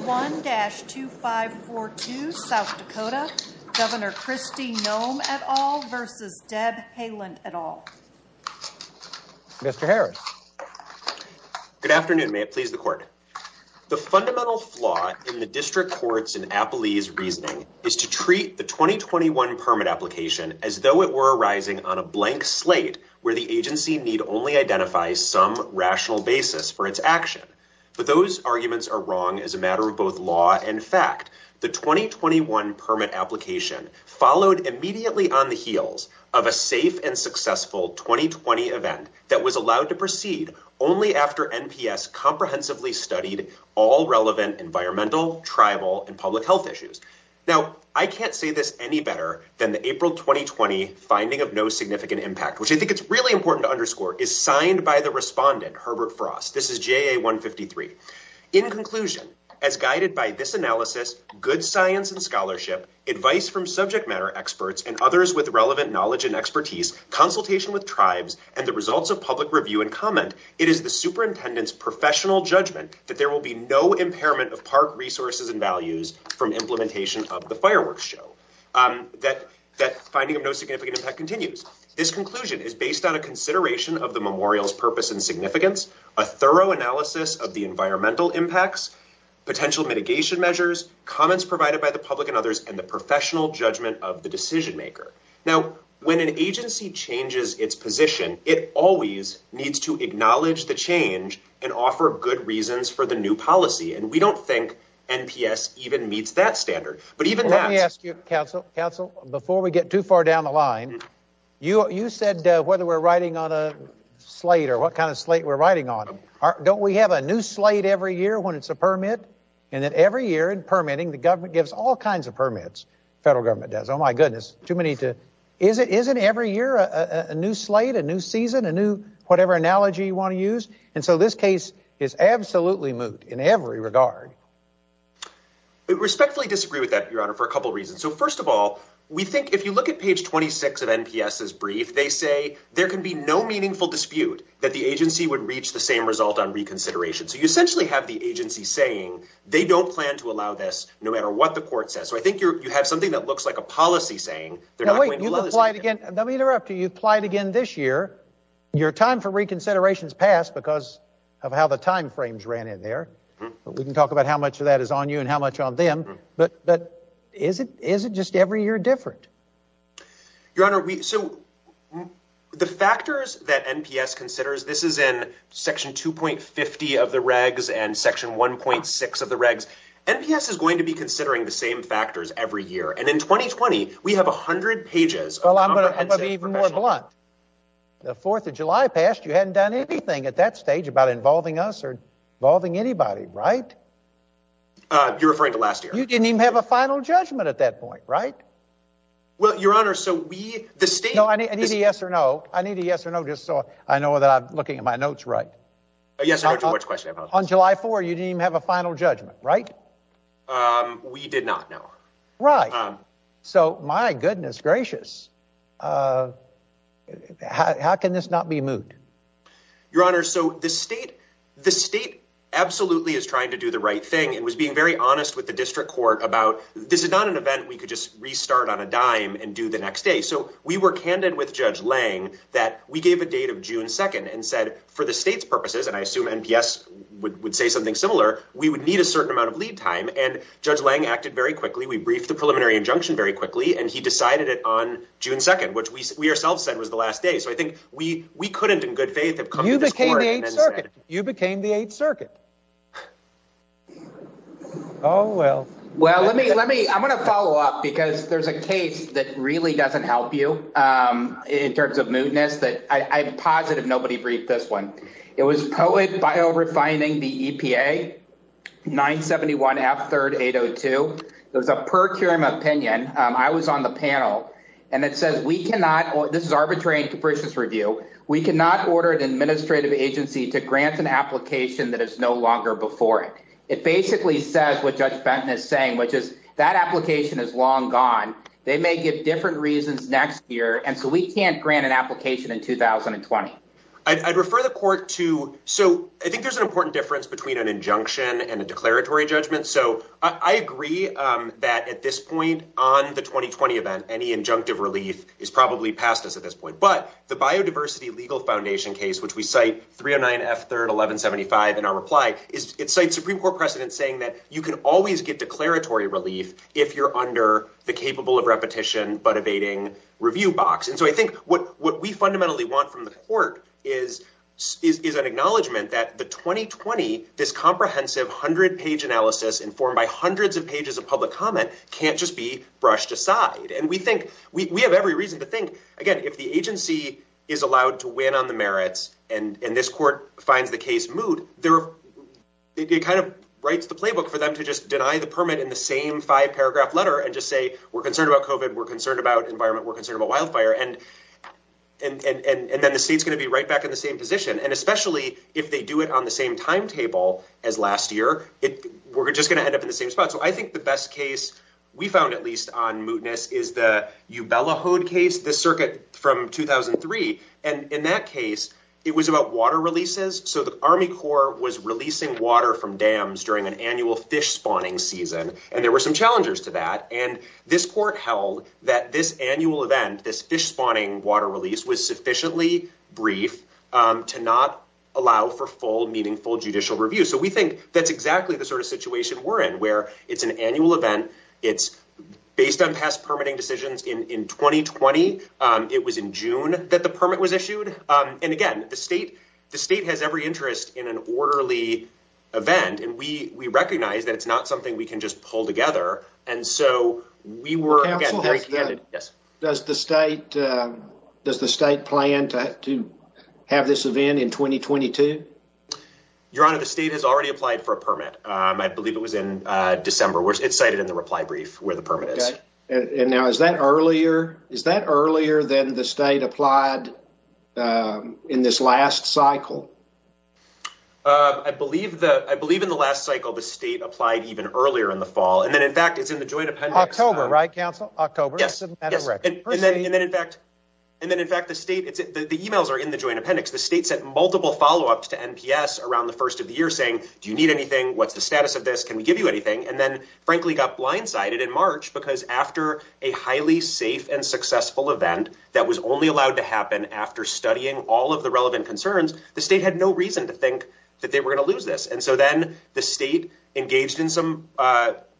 1-2542 South Dakota, Governor Kristi Noem et al. v. Deb Haaland et al. Mr. Harris. Good afternoon, may it please the court. The fundamental flaw in the district court's and Applea's reasoning is to treat the 2021 permit application as though it were arising on a blank slate where the agency need only identify some rational basis for its action. But those arguments are wrong as a matter of both law and fact. The 2021 permit application followed immediately on the heels of a safe and successful 2020 event that was allowed to proceed only after NPS comprehensively studied all relevant environmental, tribal, and public health issues. Now, I can't say this any better than the April 2020 finding of no significant impact, which I think it's really important to underscore, is signed by the respondent, Herbert Frost. This is JA 153. In conclusion, as guided by this analysis, good science and scholarship, advice from subject matter experts, and others with relevant knowledge and expertise, consultation with tribes, and the results of public review and comment, it is the superintendent's professional judgment that there will be no impairment of park resources and values from implementation of the fireworks show. That finding of no significant impact continues. This conclusion is based on a consideration of the memorial's purpose and significance, a thorough analysis of the environmental impacts, potential mitigation measures, comments provided by the public and others, and the professional judgment of the decision maker. Now, when an agency changes its position, it always needs to acknowledge the change and offer good reasons for the new policy. And we don't think NPS even meets that standard. Let me ask you, counsel, before we get too far down the line, you said whether we're riding on a slate or what kind of slate we're riding on. Don't we have a new slate every year when it's a permit? And then every year in permitting, the government gives all kinds of permits, federal government does. Oh, my goodness, too many to... Isn't every year a new slate, a new season, a new whatever analogy you want to use? And so this case is absolutely moot in every regard. I respectfully disagree with that, Your Honor, for a couple of reasons. So first of all, we think if you look at page 26 of NPS's brief, they say there can be no meaningful dispute that the agency would reach the same result on reconsideration. So you essentially have the agency saying they don't plan to allow this no matter what the court says. So I think you have something that looks like a policy saying they're not going to allow this. Now, wait, you've applied again. Let me interrupt you. You've applied again this year. Your time for reconsideration has passed because of how the time frames ran in there. We can talk about how much of that is on you and how much on them. But is it just every year different? Your Honor, so the factors that NPS considers, this is in section 2.50 of the regs and section 1.6 of the regs. NPS is going to be considering the same factors every year. And in 2020, we have 100 pages of comprehensive... Well, I'm going to be even more blunt. The 4th of July passed. You hadn't done anything at that stage about involving us or involving anybody, right? You're referring to last year. You didn't even have a final judgment at that point, right? Well, Your Honor, so we, the state... No, I need a yes or no. I need a yes or no just so I know that I'm looking at my notes right. Yes or no to which question? On July 4, you didn't even have a final judgment, right? We did not, no. Right. So my goodness gracious. How can this not be moot? Your Honor, so the state absolutely is trying to do the right thing and was being very honest with the district court about, this is not an event we could just restart on a dime and do the next day. So we were candid with Judge Lange that we gave a date of June 2nd and said for the state's purposes, and I assume NPS would say something similar, we would need a certain amount of lead time. And Judge Lange acted very quickly. We briefed the preliminary injunction very quickly and he decided it on June 2nd, which we ourselves said was the last day. So I think we couldn't in good faith have come to this court and then said it. You became the Eighth Circuit. Oh, well. Well, I'm going to follow up because there's a case that really doesn't help you in terms of mootness that I'm positive nobody briefed this one. It was Poet Biorefining the EPA, 971F3802. It was a per curiam opinion. I was on the panel and it says, this is arbitrary and capricious review. We cannot order an administrative agency to grant an application that is no longer before it. It basically says what Judge Benton is saying, which is that application is long gone. They may give different reasons next year. And so we can't grant an application in 2020. I'd refer the court to, so I think there's an important difference between an injunction and a declaratory judgment. So I agree that at this point on the 2020 event, any injunctive relief is probably past us at this point. But the Biodiversity Legal Foundation case, which we cite 309F31175 in our reply, it cites Supreme Court precedent saying that you can always get declaratory relief if you're under the capable of repetition, but evading review box. And so I think what we fundamentally want from the court is an acknowledgement that the 2020, this comprehensive hundred page analysis informed by hundreds of pages of public comment can't just be brushed aside. And we think we have every reason to think again, if the agency is allowed to win on the merits and this court finds the case moot, it kind of writes the playbook for them to just deny the permit in the same five paragraph letter and just say, we're concerned about COVID, we're concerned about environment, we're concerned about wildfire. And then the state's going to be right back in the same position. And especially if they do it on the same timetable as last year, we're just going to end up in the same spot. So I think the best case we found at least on mootness is the Ubella-Hode case, the circuit from 2003. And in that case, it was about water releases. So the Army Corps was releasing water from dams during an annual fish spawning season. And there were some challengers to that. And this court held that this annual event, this fish spawning water release was sufficiently brief to not allow for full, meaningful judicial review. So we think that's exactly the sort of situation we're in, where it's an annual event. It's based on past permitting decisions in 2020. It was in June that the permit was issued. And again, the state has every interest in an orderly event. And we recognize that it's not something we can just pull together. And so we were very candid. Does the state plan to have this event in 2022? Your Honor, the state has already applied for it. It's cited in the reply brief where the permit is. And now, is that earlier than the state applied in this last cycle? I believe in the last cycle, the state applied even earlier in the fall. And then in fact, it's in the joint appendix. October, right, counsel? October. Yes. And then in fact, the emails are in the joint appendix. The state sent multiple follow-ups to NPS around the first of the year saying, do you need anything? What's the status of this? Can we give you anything? And then frankly got blindsided in March because after a highly safe and successful event that was only allowed to happen after studying all of the relevant concerns, the state had no reason to think that they were going to lose this. And so then the state engaged in some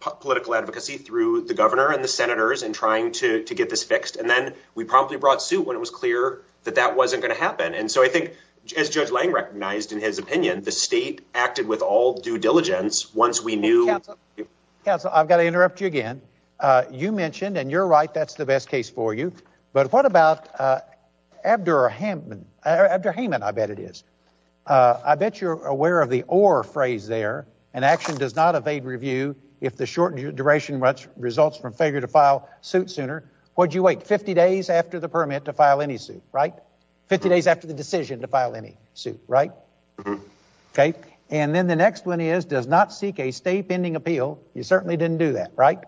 political advocacy through the governor and the senators and trying to get this fixed. And then we promptly brought suit when it was clear that that wasn't going to happen. And so I think as Judge Lange recognized in his opinion, the state acted with all due diligence once we knew. Counsel, I've got to interrupt you again. You mentioned, and you're right, that's the best case for you. But what about Abderrahman? Abderrahman, I bet it is. I bet you're aware of the or phrase there. An action does not evade review if the shortened duration results from failure to file suit sooner. What'd you wait? 50 days after the permit to file any suit, right? 50 days after the decision to file any suit, right? Okay. And then the next one is does not seek a state pending appeal. You certainly didn't do that, right?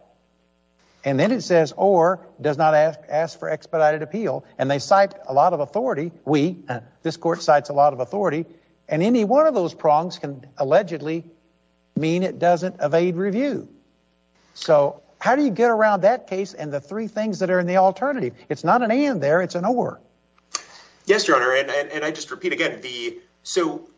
And then it says, or does not ask for expedited appeal. And they cite a lot of authority. We, this court cites a lot of authority and any one of those prongs can allegedly mean it doesn't evade review. So how do you get around that case and the three things that are in the alternative? It's not an and there, it's an or. Yes, your honor. And, and I just repeat again, the, so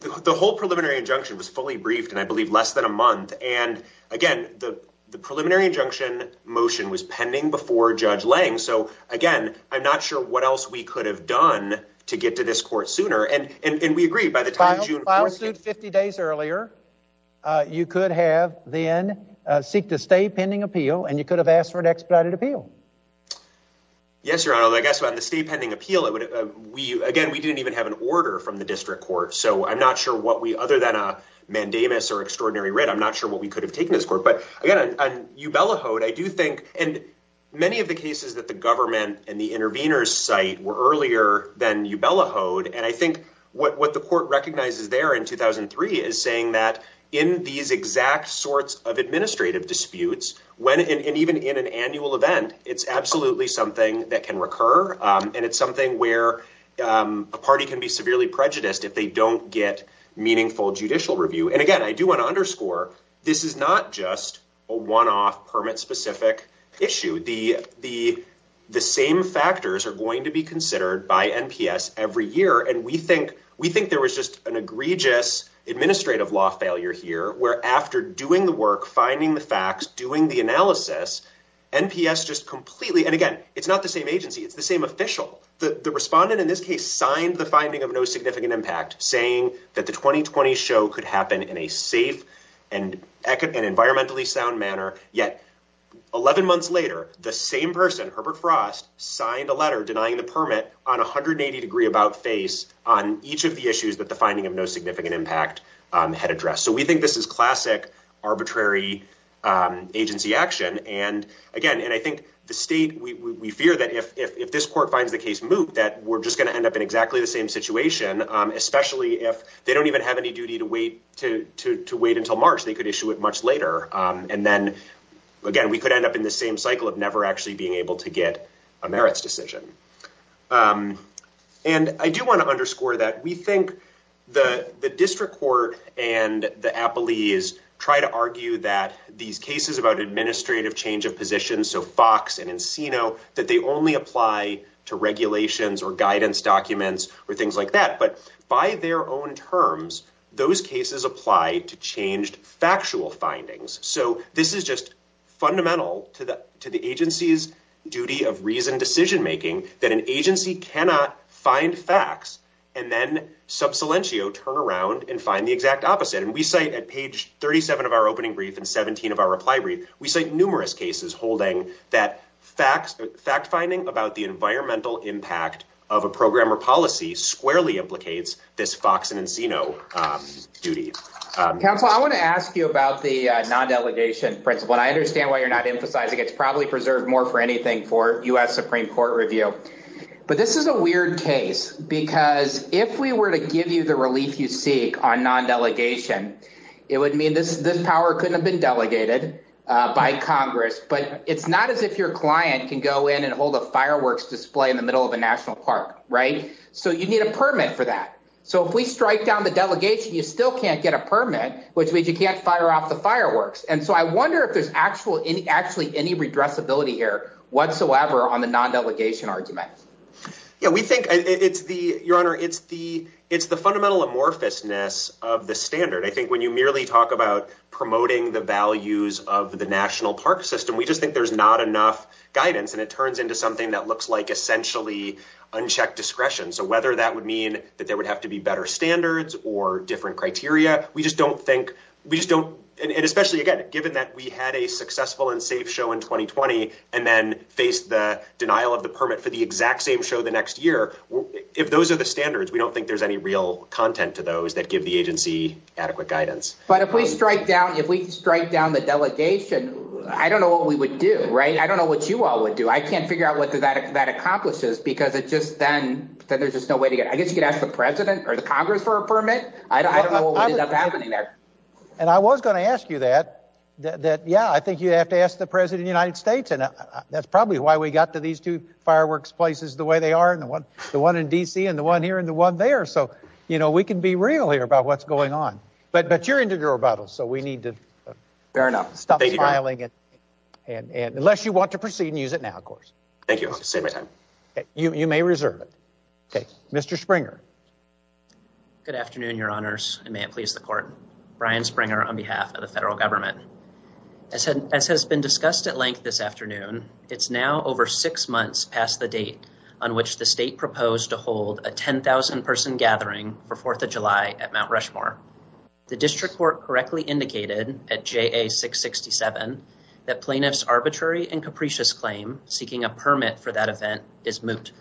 the whole preliminary injunction was fully briefed and I believe less than a month. And again, the, the preliminary injunction motion was pending before judge Lang. So again, I'm not sure what else we could have done to get to this court sooner. And, and, and we agree by the time June 50 days earlier, uh, you could have then, uh, seek the state pending appeal and you could have asked for an expedited appeal. Yes, your honor. I guess on the state pending appeal, it would, uh, we, again, we didn't even have an order from the district court. So I'm not sure what we, other than a mandamus or extraordinary writ, I'm not sure what we could have taken this court, but again, on Ubella Hode, I do think, and many of the cases that the government and the interveners site were earlier than Ubella Hode. And I think what, what the court recognizes there in 2003 is saying that in these exact sorts of administrative disputes, when, and even in an annual event, it's absolutely something that can recur. Um, and it's something where, um, a party can be severely prejudiced if they don't get meaningful judicial review. And again, I do want to underscore this is not just a one-off permit specific issue. The, the, the same factors are going to be considered by NPS every year. And we think, we think there was just an egregious administrative law failure here where after doing the work, finding the facts, doing the analysis NPS, just completely. And again, it's not the same agency. It's the same official. The respondent in this case signed the finding of no significant impact saying that the 2020 show could happen in a safe and eco and environmentally sound manner. Yet 11 months later, the same person, Herbert Frost signed a letter denying the permit on 180 degree about face on each of the issues that the finding of no significant impact, um, had addressed. So we think this is classic arbitrary, um, agency action. And again, and I think the state, we, we, we fear that if, if, if this court finds the case moot, that we're just going to end up in exactly the same situation. Um, especially if they don't even have any duty to wait, to, to, to wait until March, they could issue it much later. Um, and then again, we could end up in the same cycle of never actually being able to get a merits decision. Um, and I do want to underscore that we think the, the district court and the Appley is try to argue that these cases about administrative change of position. So Fox and Encino that they only apply to regulations or guidance documents or things like that, but by their own terms, those cases apply to changed factual findings. So this is just fundamental to the, to the agency's duty of reason decision-making that an agency cannot find facts and then sub silentio turn around and find the exact opposite. And we cite at page 37 of our opening brief and 17 of our reply brief, we cite numerous cases holding that facts, fact finding about the environmental impact of a program or policy squarely implicates this Fox and Encino, um, duty. Um, counsel, I want to ask you about the non-delegation principle, and I understand why you're not emphasizing it's probably preserved more for anything for us Supreme court review, but this is a weird case because if we were to give you the relief you seek on non-delegation, it would mean this, this power couldn't have been delegated, uh, by Congress, but it's not as if your client can go in and hold a fireworks display in the middle of a national park, right? So you need a permit for that. So if we strike down the delegation, you still can't get a permit, which means you can't fire off the fireworks. And so I whatsoever on the non-delegation argument. Yeah, we think it's the your honor. It's the, it's the fundamental amorphous ness of the standard. I think when you merely talk about promoting the values of the national park system, we just think there's not enough guidance and it turns into something that looks like essentially unchecked discretion. So whether that would mean that there would have to be better standards or different criteria, we just don't think we just don't. And especially again, given that we had a successful and safe show in 2020 and then faced the denial of the permit for the exact same show the next year. If those are the standards, we don't think there's any real content to those that give the agency adequate guidance. But if we strike down, if we strike down the delegation, I don't know what we would do, right? I don't know what you all would do. I can't figure out what that accomplishes because it just, then there's just no way to get, I guess you could ask the president or the Congress for a permit. I don't know what ended up happening there. And I was going to ask you that, that, that, yeah, I think you have to ask the president of the United States. And that's probably why we got to these two fireworks places, the way they are and the one, the one in DC and the one here and the one there. So, you know, we can be real here about what's going on, but, but you're into your rebuttals, so we need to stop filing it. And unless you want to proceed and use it now, of course. Thank you. You may reserve it. Okay. Mr. Springer. Good afternoon, your honors, and may it please the court. Brian Springer on behalf of the federal government. As has been discussed at length this afternoon, it's now over six months past the date on which the state proposed to hold a 10,000 person gathering for 4th of July at Mount Rushmore. The district court correctly indicated at JA 667 that plaintiff's arbitrary and capricious claim seeking a permit for that event is moot.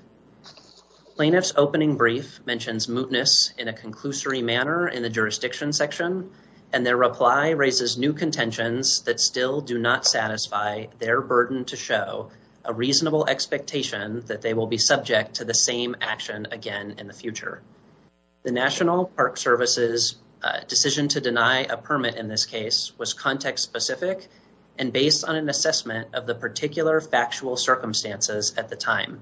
Plaintiff's opening brief mentions mootness in a conclusory manner in the jurisdiction section, and their reply raises new contentions that still do not satisfy their burden to show a reasonable expectation that they will be subject to the same action again in the future. The national park services decision to deny a permit in this case was context specific and based on an assessment of the particular factual circumstances at the time.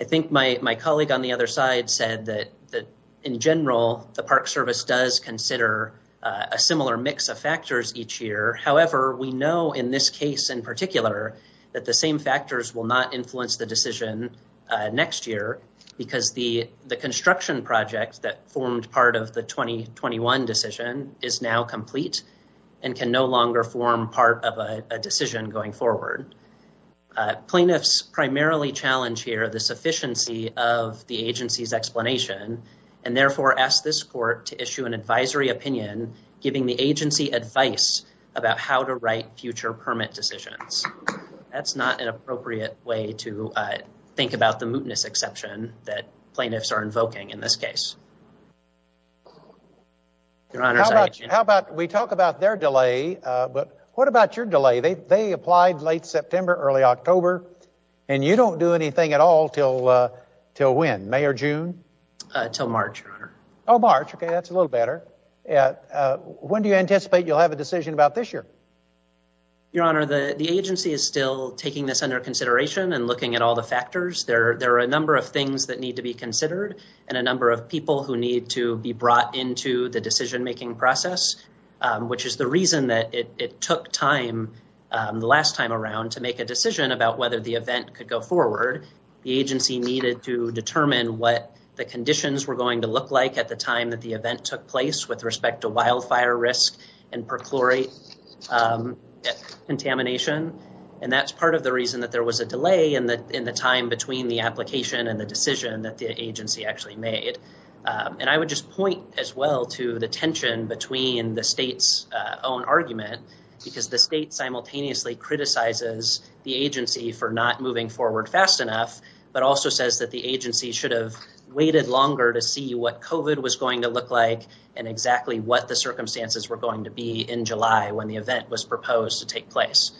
I think my colleague on the other side said that in general, the park service does consider a similar mix of factors each year. However, we know in this case in particular that the same factors will not influence the decision next year because the construction project that formed part of the 2021 decision is now complete and can no longer form part of a decision going forward. Plaintiffs primarily challenge here the sufficiency of the agency's explanation and therefore ask this court to issue an advisory opinion giving the agency advice about how to write future permit decisions. That's not an appropriate way to think about the case. We talk about their delay, but what about your delay? They applied late September, early October, and you don't do anything at all till when? May or June? Till March, your honor. Oh, March. Okay, that's a little better. When do you anticipate you'll have a decision about this year? Your honor, the agency is still taking this under consideration and looking at all the factors. There are a number of things that need to be considered and a number of people who need to be brought into the decision-making process, which is the reason that it took time the last time around to make a decision about whether the event could go forward. The agency needed to determine what the conditions were going to look like at the time that the event took place with respect to wildfire risk and perchlorate contamination, and that's part of the reason that there was a application and the decision that the agency actually made. I would just point as well to the tension between the state's own argument, because the state simultaneously criticizes the agency for not moving forward fast enough, but also says that the agency should have waited longer to see what COVID was going to look like and exactly what the circumstances were going to be in July when the event was proposed to take place.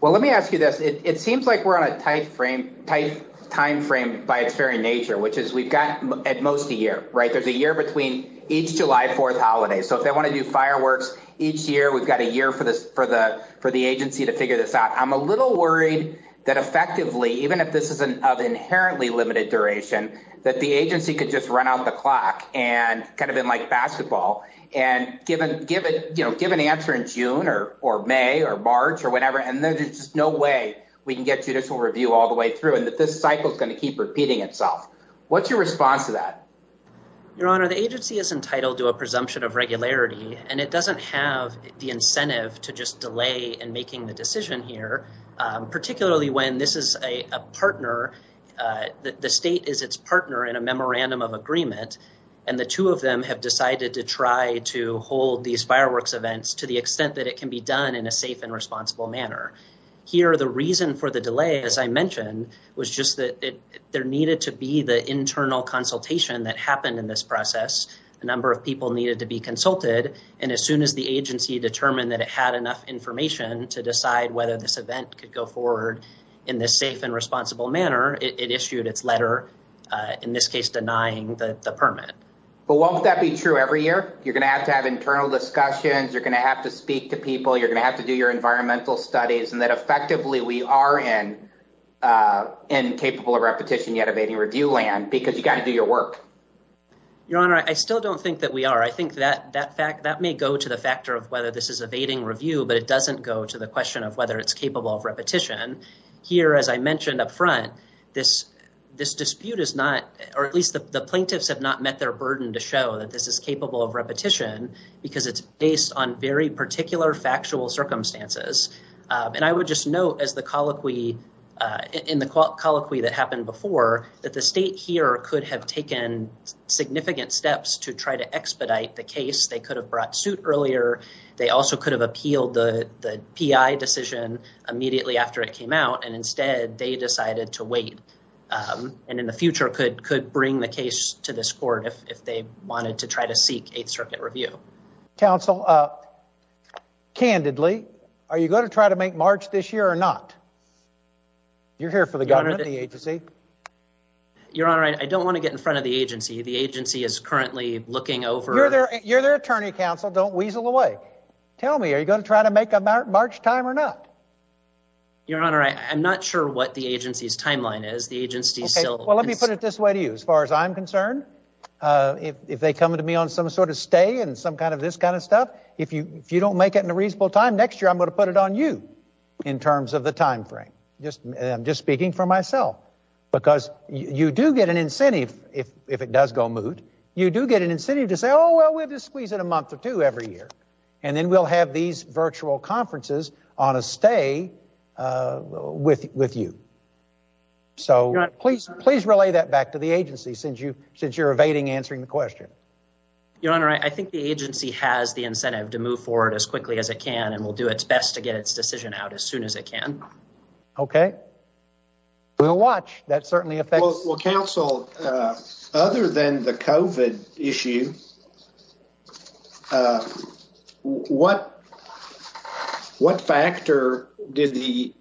Well, let me ask you this. It seems like we're on a tight timeframe by its very nature, which is we've got at most a year, right? There's a year between each July 4th holiday. So if they want to do fireworks each year, we've got a year for the agency to figure this out. I'm a little worried that effectively, even if this is of inherently limited duration, that the agency could just run out the clock and kind of in like basketball and give an answer in June or May or March or whenever, and there's just no way we can get judicial review all the way through and that this cycle is going to keep repeating itself. What's your response to that? Your Honor, the agency is entitled to a presumption of regularity and it doesn't have the incentive to just delay in making the decision here, particularly when this is a partner, the state is its partner in a memorandum of agreement and the two of them have decided to try to hold these fireworks events to the extent that it can be done in a safe and responsible manner. And so the reason why we had to delay, as I mentioned, was just that there needed to be the internal consultation that happened in this process. A number of people needed to be consulted and as soon as the agency determined that it had enough information to decide whether this event could go forward in this safe and responsible manner, it issued its letter, in this case denying the permit. But won't that be true every year? You're going to have to have internal discussions, you're going to have to speak to people, you're going to have to do your environmental studies and that effectively we are in capable of repetition yet evading review land because you got to do your work. Your Honor, I still don't think that we are. I think that may go to the factor of whether this is evading review, but it doesn't go to the question of whether it's capable of repetition. Here, as I mentioned up front, this dispute is not, or at least the plaintiffs have not met their burden to show that this is factual circumstances. And I would just note as the colloquy, in the colloquy that happened before, that the state here could have taken significant steps to try to expedite the case. They could have brought suit earlier. They also could have appealed the PI decision immediately after it came out and instead they decided to wait and in the future could bring the case to this court if they wanted to try to seek Eighth Circuit review. Counsel, candidly, are you going to try to make March this year or not? You're here for the government, the agency. Your Honor, I don't want to get in front of the agency. The agency is currently looking over... You're their attorney, counsel. Don't weasel away. Tell me, are you going to try to make a March time or not? Your Honor, I'm not sure what the agency's timeline is. The agency still... Well, let me put it this way to you. As far as I'm concerned, if they come to me on some sort of stay and some kind of this kind of stuff, if you don't make it in a reasonable time next year, I'm going to put it on you in terms of the time frame. I'm just speaking for myself because you do get an incentive if it does go moot. You do get an incentive to say, oh, well, we'll just squeeze in a month or two every year and then we'll have these virtual conferences on a stay with you. So please relay that back to the agency since you're evading answering the question. Your Honor, I think the agency has the incentive to move forward as quickly as it can and will do its best to get its decision out as soon as it can. Okay. We'll watch. That certainly affects... Counsel, other than the COVID issue, what factor did the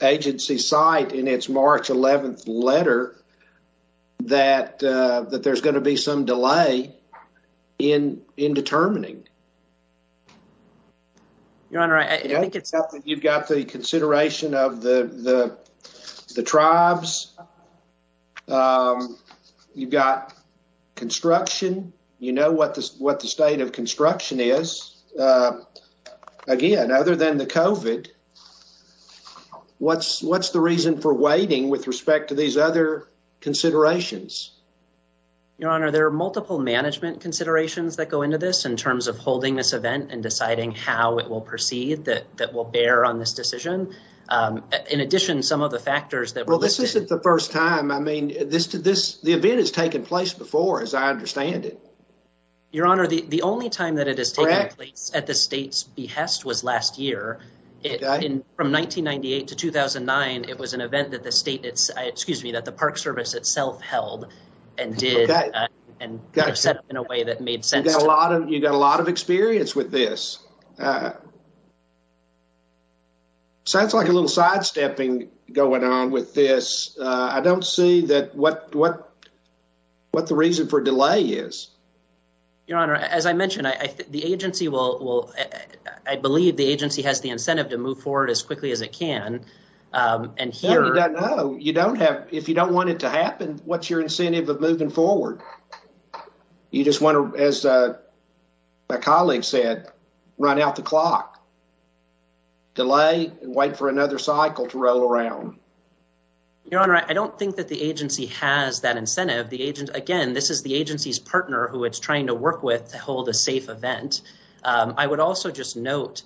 agency cite in its March 11th letter that there's going to be some delay in determining? Your Honor, I think it's... You've got the consideration of the tribes. You've got construction. You know what the state of construction is. Again, other than the COVID, what's the reason for waiting with respect to these other considerations? Your Honor, there are multiple management considerations that go on this decision. In addition, some of the factors that... Well, this isn't the first time. The event has taken place before, as I understand it. Your Honor, the only time that it has taken place at the state's behest was last year. From 1998 to 2009, it was an event that the park service itself held and did and set up in a way that made sense. You've got a lot of experience with this. Sounds like a little sidestepping going on with this. I don't see what the reason for delay is. Your Honor, as I mentioned, the agency will... I believe the agency has the incentive to move forward as quickly as it can and here... No, you don't. If you don't want it to happen, what's your incentive of moving forward? You just want to, as my colleague said, run out the clock, delay, and wait for another cycle to roll around. Your Honor, I don't think that the agency has that incentive. Again, this is the agency's partner who it's trying to work with to hold a safe event. I would also just note,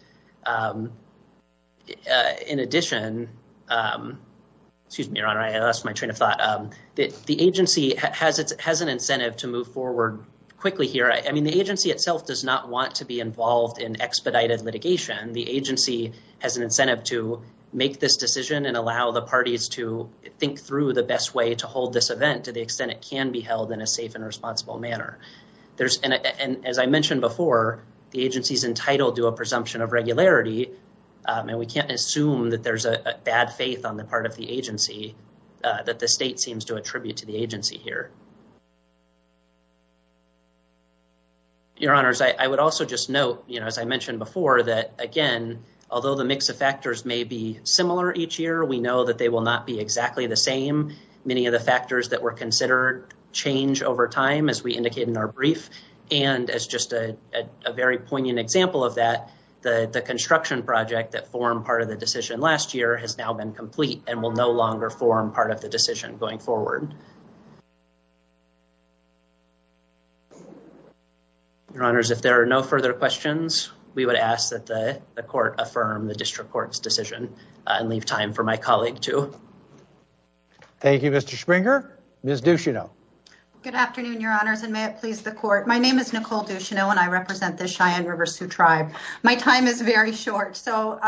in addition... Excuse me, Your Honor. I lost my train of thought. The agency has an incentive to move forward quickly here. The agency itself does not want to be involved in expedited litigation. The agency has an incentive to make this decision and allow the parties to think through the best way to hold this event to the extent it can be held in a safe and responsible manner. As I mentioned before, the agency's entitled to a presumption of regularity. We can't assume that there's a bad faith on the part of the agency that the state seems to attribute to the agency here. Your Honors, I would also just note, as I mentioned before, that again, although the mix of factors may be similar each year, we know that they will not be exactly the same. Many of the factors that were considered change over time, as we indicated in our brief. And as just a very poignant example of that, the construction project that formed part of the decision last year has now been complete and will no longer form part of the decision going forward. Your Honors, if there are no further questions, we would ask that the court affirm the district court's decision and leave time for my colleague too. Thank you, Mr. Springer. Ms. Ducheneau. Good afternoon, Your Honors, and may it please the court. My name is Nicole Ducheneau and I represent the Cheyenne River Sioux Tribe. My time is very short, so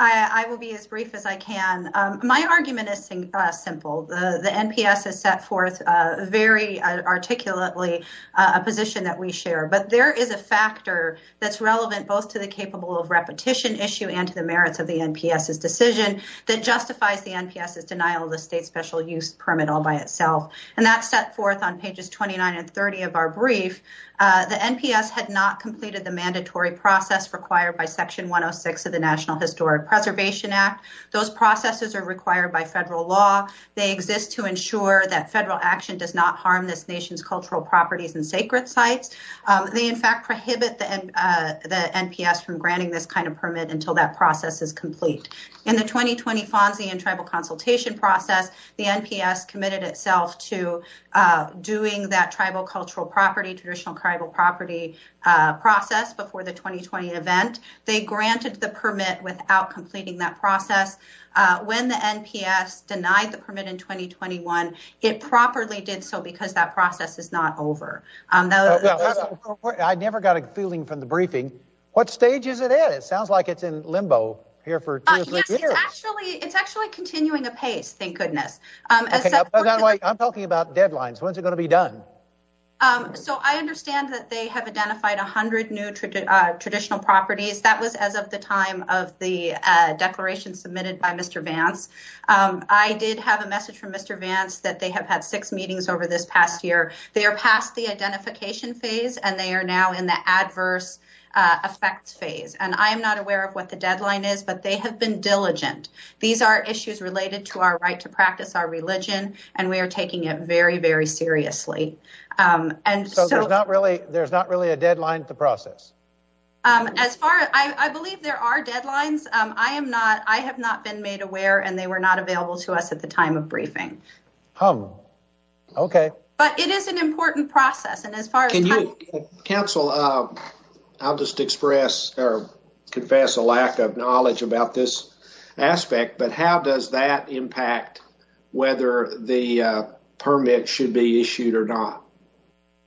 I will be as brief as I can. My argument is simple. The NPS has set forth very articulately a position that we share, but there is a factor that's relevant both to the capable of repetition issue and to the merits of the NPS's decision that justifies the NPS's denial of the state special use permit all by itself. And that's set forth on pages 29 and 30 of our brief. The NPS had not completed the mandatory process required by Section 106 of the National Historic Preservation Act. Those processes are required by federal law. They exist to ensure that federal action does not harm this nation's cultural properties and sacred sites. They in fact prohibit the NPS from granting this kind of permit until that process is complete. In the 2020 FONSI and tribal consultation process, the NPS committed itself to doing that tribal cultural property, traditional tribal property process before the 2020 event. They granted the permit without completing that process. When the NPS denied the permit in 2021, it properly did so because that process is not over. I never got a feeling from the briefing, what stage is it in? It sounds like it's in limbo here for two or three years. It's actually continuing apace, thank goodness. I'm talking about deadlines. When's it going to be done? Um, so I understand that they have identified a hundred new traditional properties. That was as of the time of the declaration submitted by Mr. Vance. I did have a message from Mr. Vance that they have had six meetings over this past year. They are past the identification phase and they are now in the adverse effects phase. And I am not aware of what the deadline is, but they have been diligent. These are issues related to our right to practice our religion and we are taking it very, very seriously. So there's not really a deadline to process? As far as, I believe there are deadlines. I am not, I have not been made aware and they were not available to us at the time of briefing. Oh, okay. But it is an important process. And as far as- Council, I'll just express or confess a lack of knowledge about this aspect, but how does that impact whether the permit should be issued or not?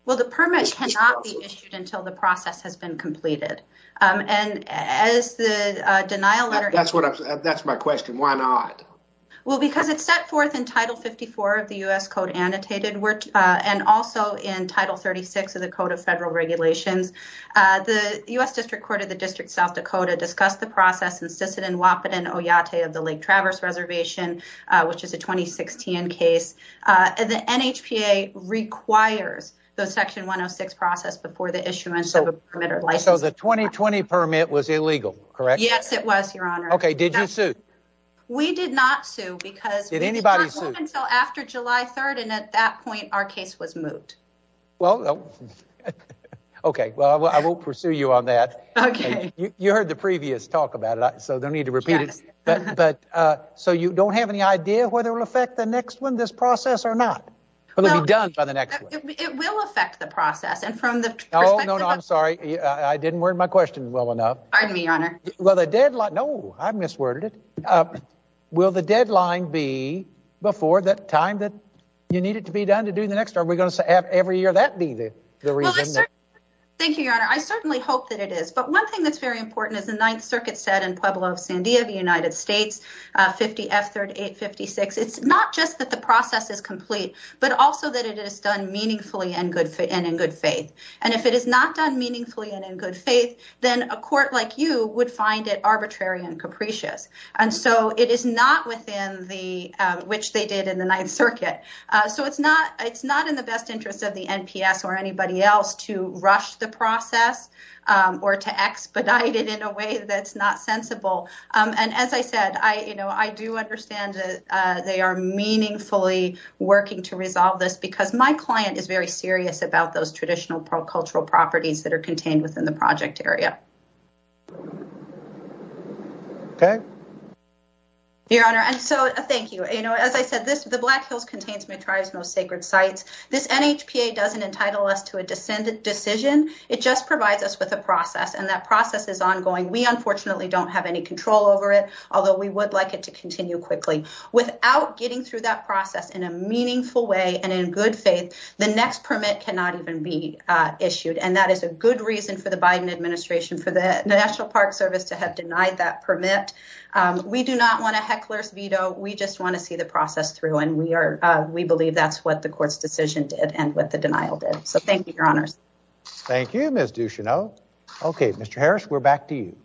Well, the permit cannot be issued until the process has been completed. And as the denial letter- That's what I'm, that's my question. Why not? Well, because it's set forth in Title 54 of the U.S. Code Annotated and also in Title 36 of the Code of Federal Regulations. The U.S. District Court of the District of South Dakota discussed the process in the Lake Traverse Reservation, which is a 2016 case. The NHPA requires the Section 106 process before the issuance of a permit or license. So the 2020 permit was illegal, correct? Yes, it was, Your Honor. Okay, did you sue? We did not sue because- Did anybody sue? We did not sue until after July 3rd and at that point, our case was moved. Well, okay. Well, I won't pursue you on that. Okay. You heard the previous talk about it, so don't need to repeat it, but so you don't have any idea whether it'll affect the next one, this process or not? It'll be done by the next one. It will affect the process and from the perspective- Oh, no, no, I'm sorry. I didn't word my question well enough. Pardon me, Your Honor. Well, the deadline- No, I misworded it. Will the deadline be before the time that you need it to be done to do the next? Are we going to have every year that be the reason? Thank you, Your Honor. I certainly hope that it is. But one thing that's very important is the Ninth Circuit said in Pueblo of Sandia, the United States, 50 F 3856. It's not just that the process is complete, but also that it is done meaningfully and in good faith. And if it is not done meaningfully and in good faith, then a court like you would find it arbitrary and capricious. And so it is not within which they did in the Ninth Circuit. So it's not in the best interest of the NPS or anybody else to rush the process or to expedite it in a way that's not sensible. And as I said, I do understand that they are meaningfully working to resolve this because my client is very serious about those traditional cultural properties that are contained within the project area. Okay. Your Honor. And so thank you. As I said, the Black This NHPA doesn't entitle us to a decision. It just provides us with a process and that process is ongoing. We unfortunately don't have any control over it, although we would like it to continue quickly without getting through that process in a meaningful way and in good faith. The next permit cannot even be issued. And that is a good reason for the Biden administration, for the National Park Service to have denied that permit. We do not want a heckler's veto. We just want to see the process through and we believe that's what the court's decision did and what the denial did. So thank you, Your Honors. Thank you, Ms. Ducheneau. Okay, Mr. Harris, we're back to you.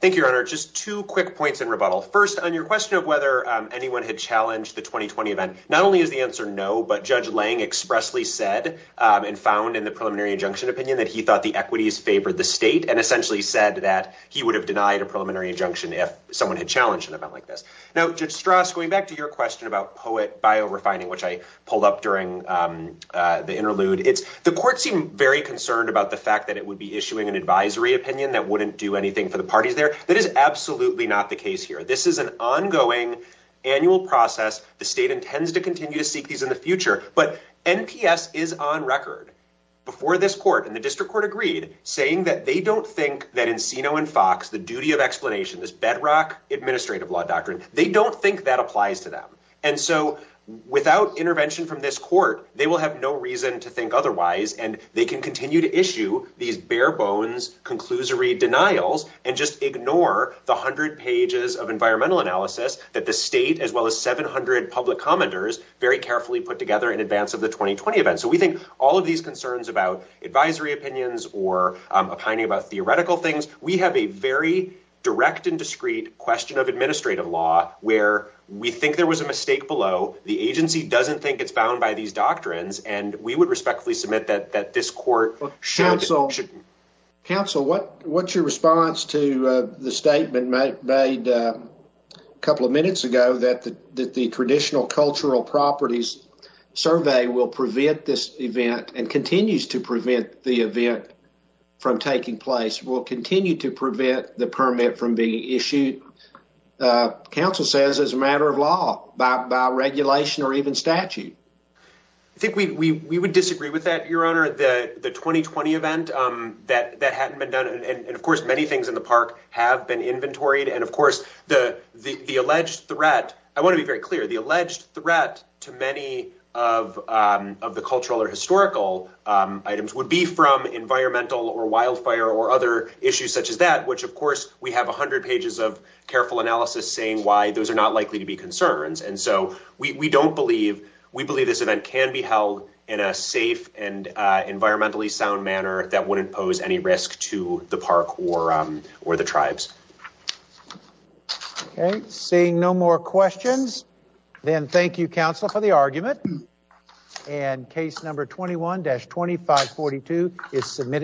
Thank you, Your Honor. Just two quick points in rebuttal. First, on your question of whether anyone had challenged the 2020 event, not only is the answer no, but Judge Lange expressly said and found in the preliminary injunction opinion that he thought the equities favored the state and essentially said that he would have denied a preliminary injunction if someone had challenged an event like this. Now, Judge Strauss, going back to your question about POET biorefining, which I pulled up during the interlude, the court seemed very concerned about the fact that it would be issuing an advisory opinion that wouldn't do anything for the parties there. That is absolutely not the case here. This is an ongoing annual process. The state intends to continue to seek these in the future, but NPS is on record before this court and the district court agreed, saying that they don't think that Encino and Fox, the this bedrock administrative law doctrine, they don't think that applies to them. And so without intervention from this court, they will have no reason to think otherwise. And they can continue to issue these bare bones, conclusory denials, and just ignore the hundred pages of environmental analysis that the state, as well as 700 public commenters very carefully put together in advance of the 2020 event. So we think all of these concerns about advisory opinions or opining about theoretical things, we have a very direct and discreet question of administrative law where we think there was a mistake below. The agency doesn't think it's bound by these doctrines, and we would respectfully submit that this court should. Counsel, what's your response to the statement made a couple of minutes ago that the traditional cultural properties survey will prevent this event and continues to prevent the event from taking place will continue to prevent the permit from being issued. Council says as a matter of law by regulation or even statute. I think we would disagree with that, your honor, the 2020 event that hadn't been done. And of course, many things in the park have been inventoried. And of course, the alleged threat, I want to be very clear, the alleged threat to many of the cultural or historical items would be from environmental or wildfire or other issues such as that, which, of course, we have 100 pages of careful analysis saying why those are not likely to be concerns. And so we don't believe we believe this event can be held in a safe and environmentally sound manner that wouldn't pose any risk to the park or the tribes. Okay, seeing no more questions, then thank you, counsel, for the argument. And case number 21-2542 is submitted.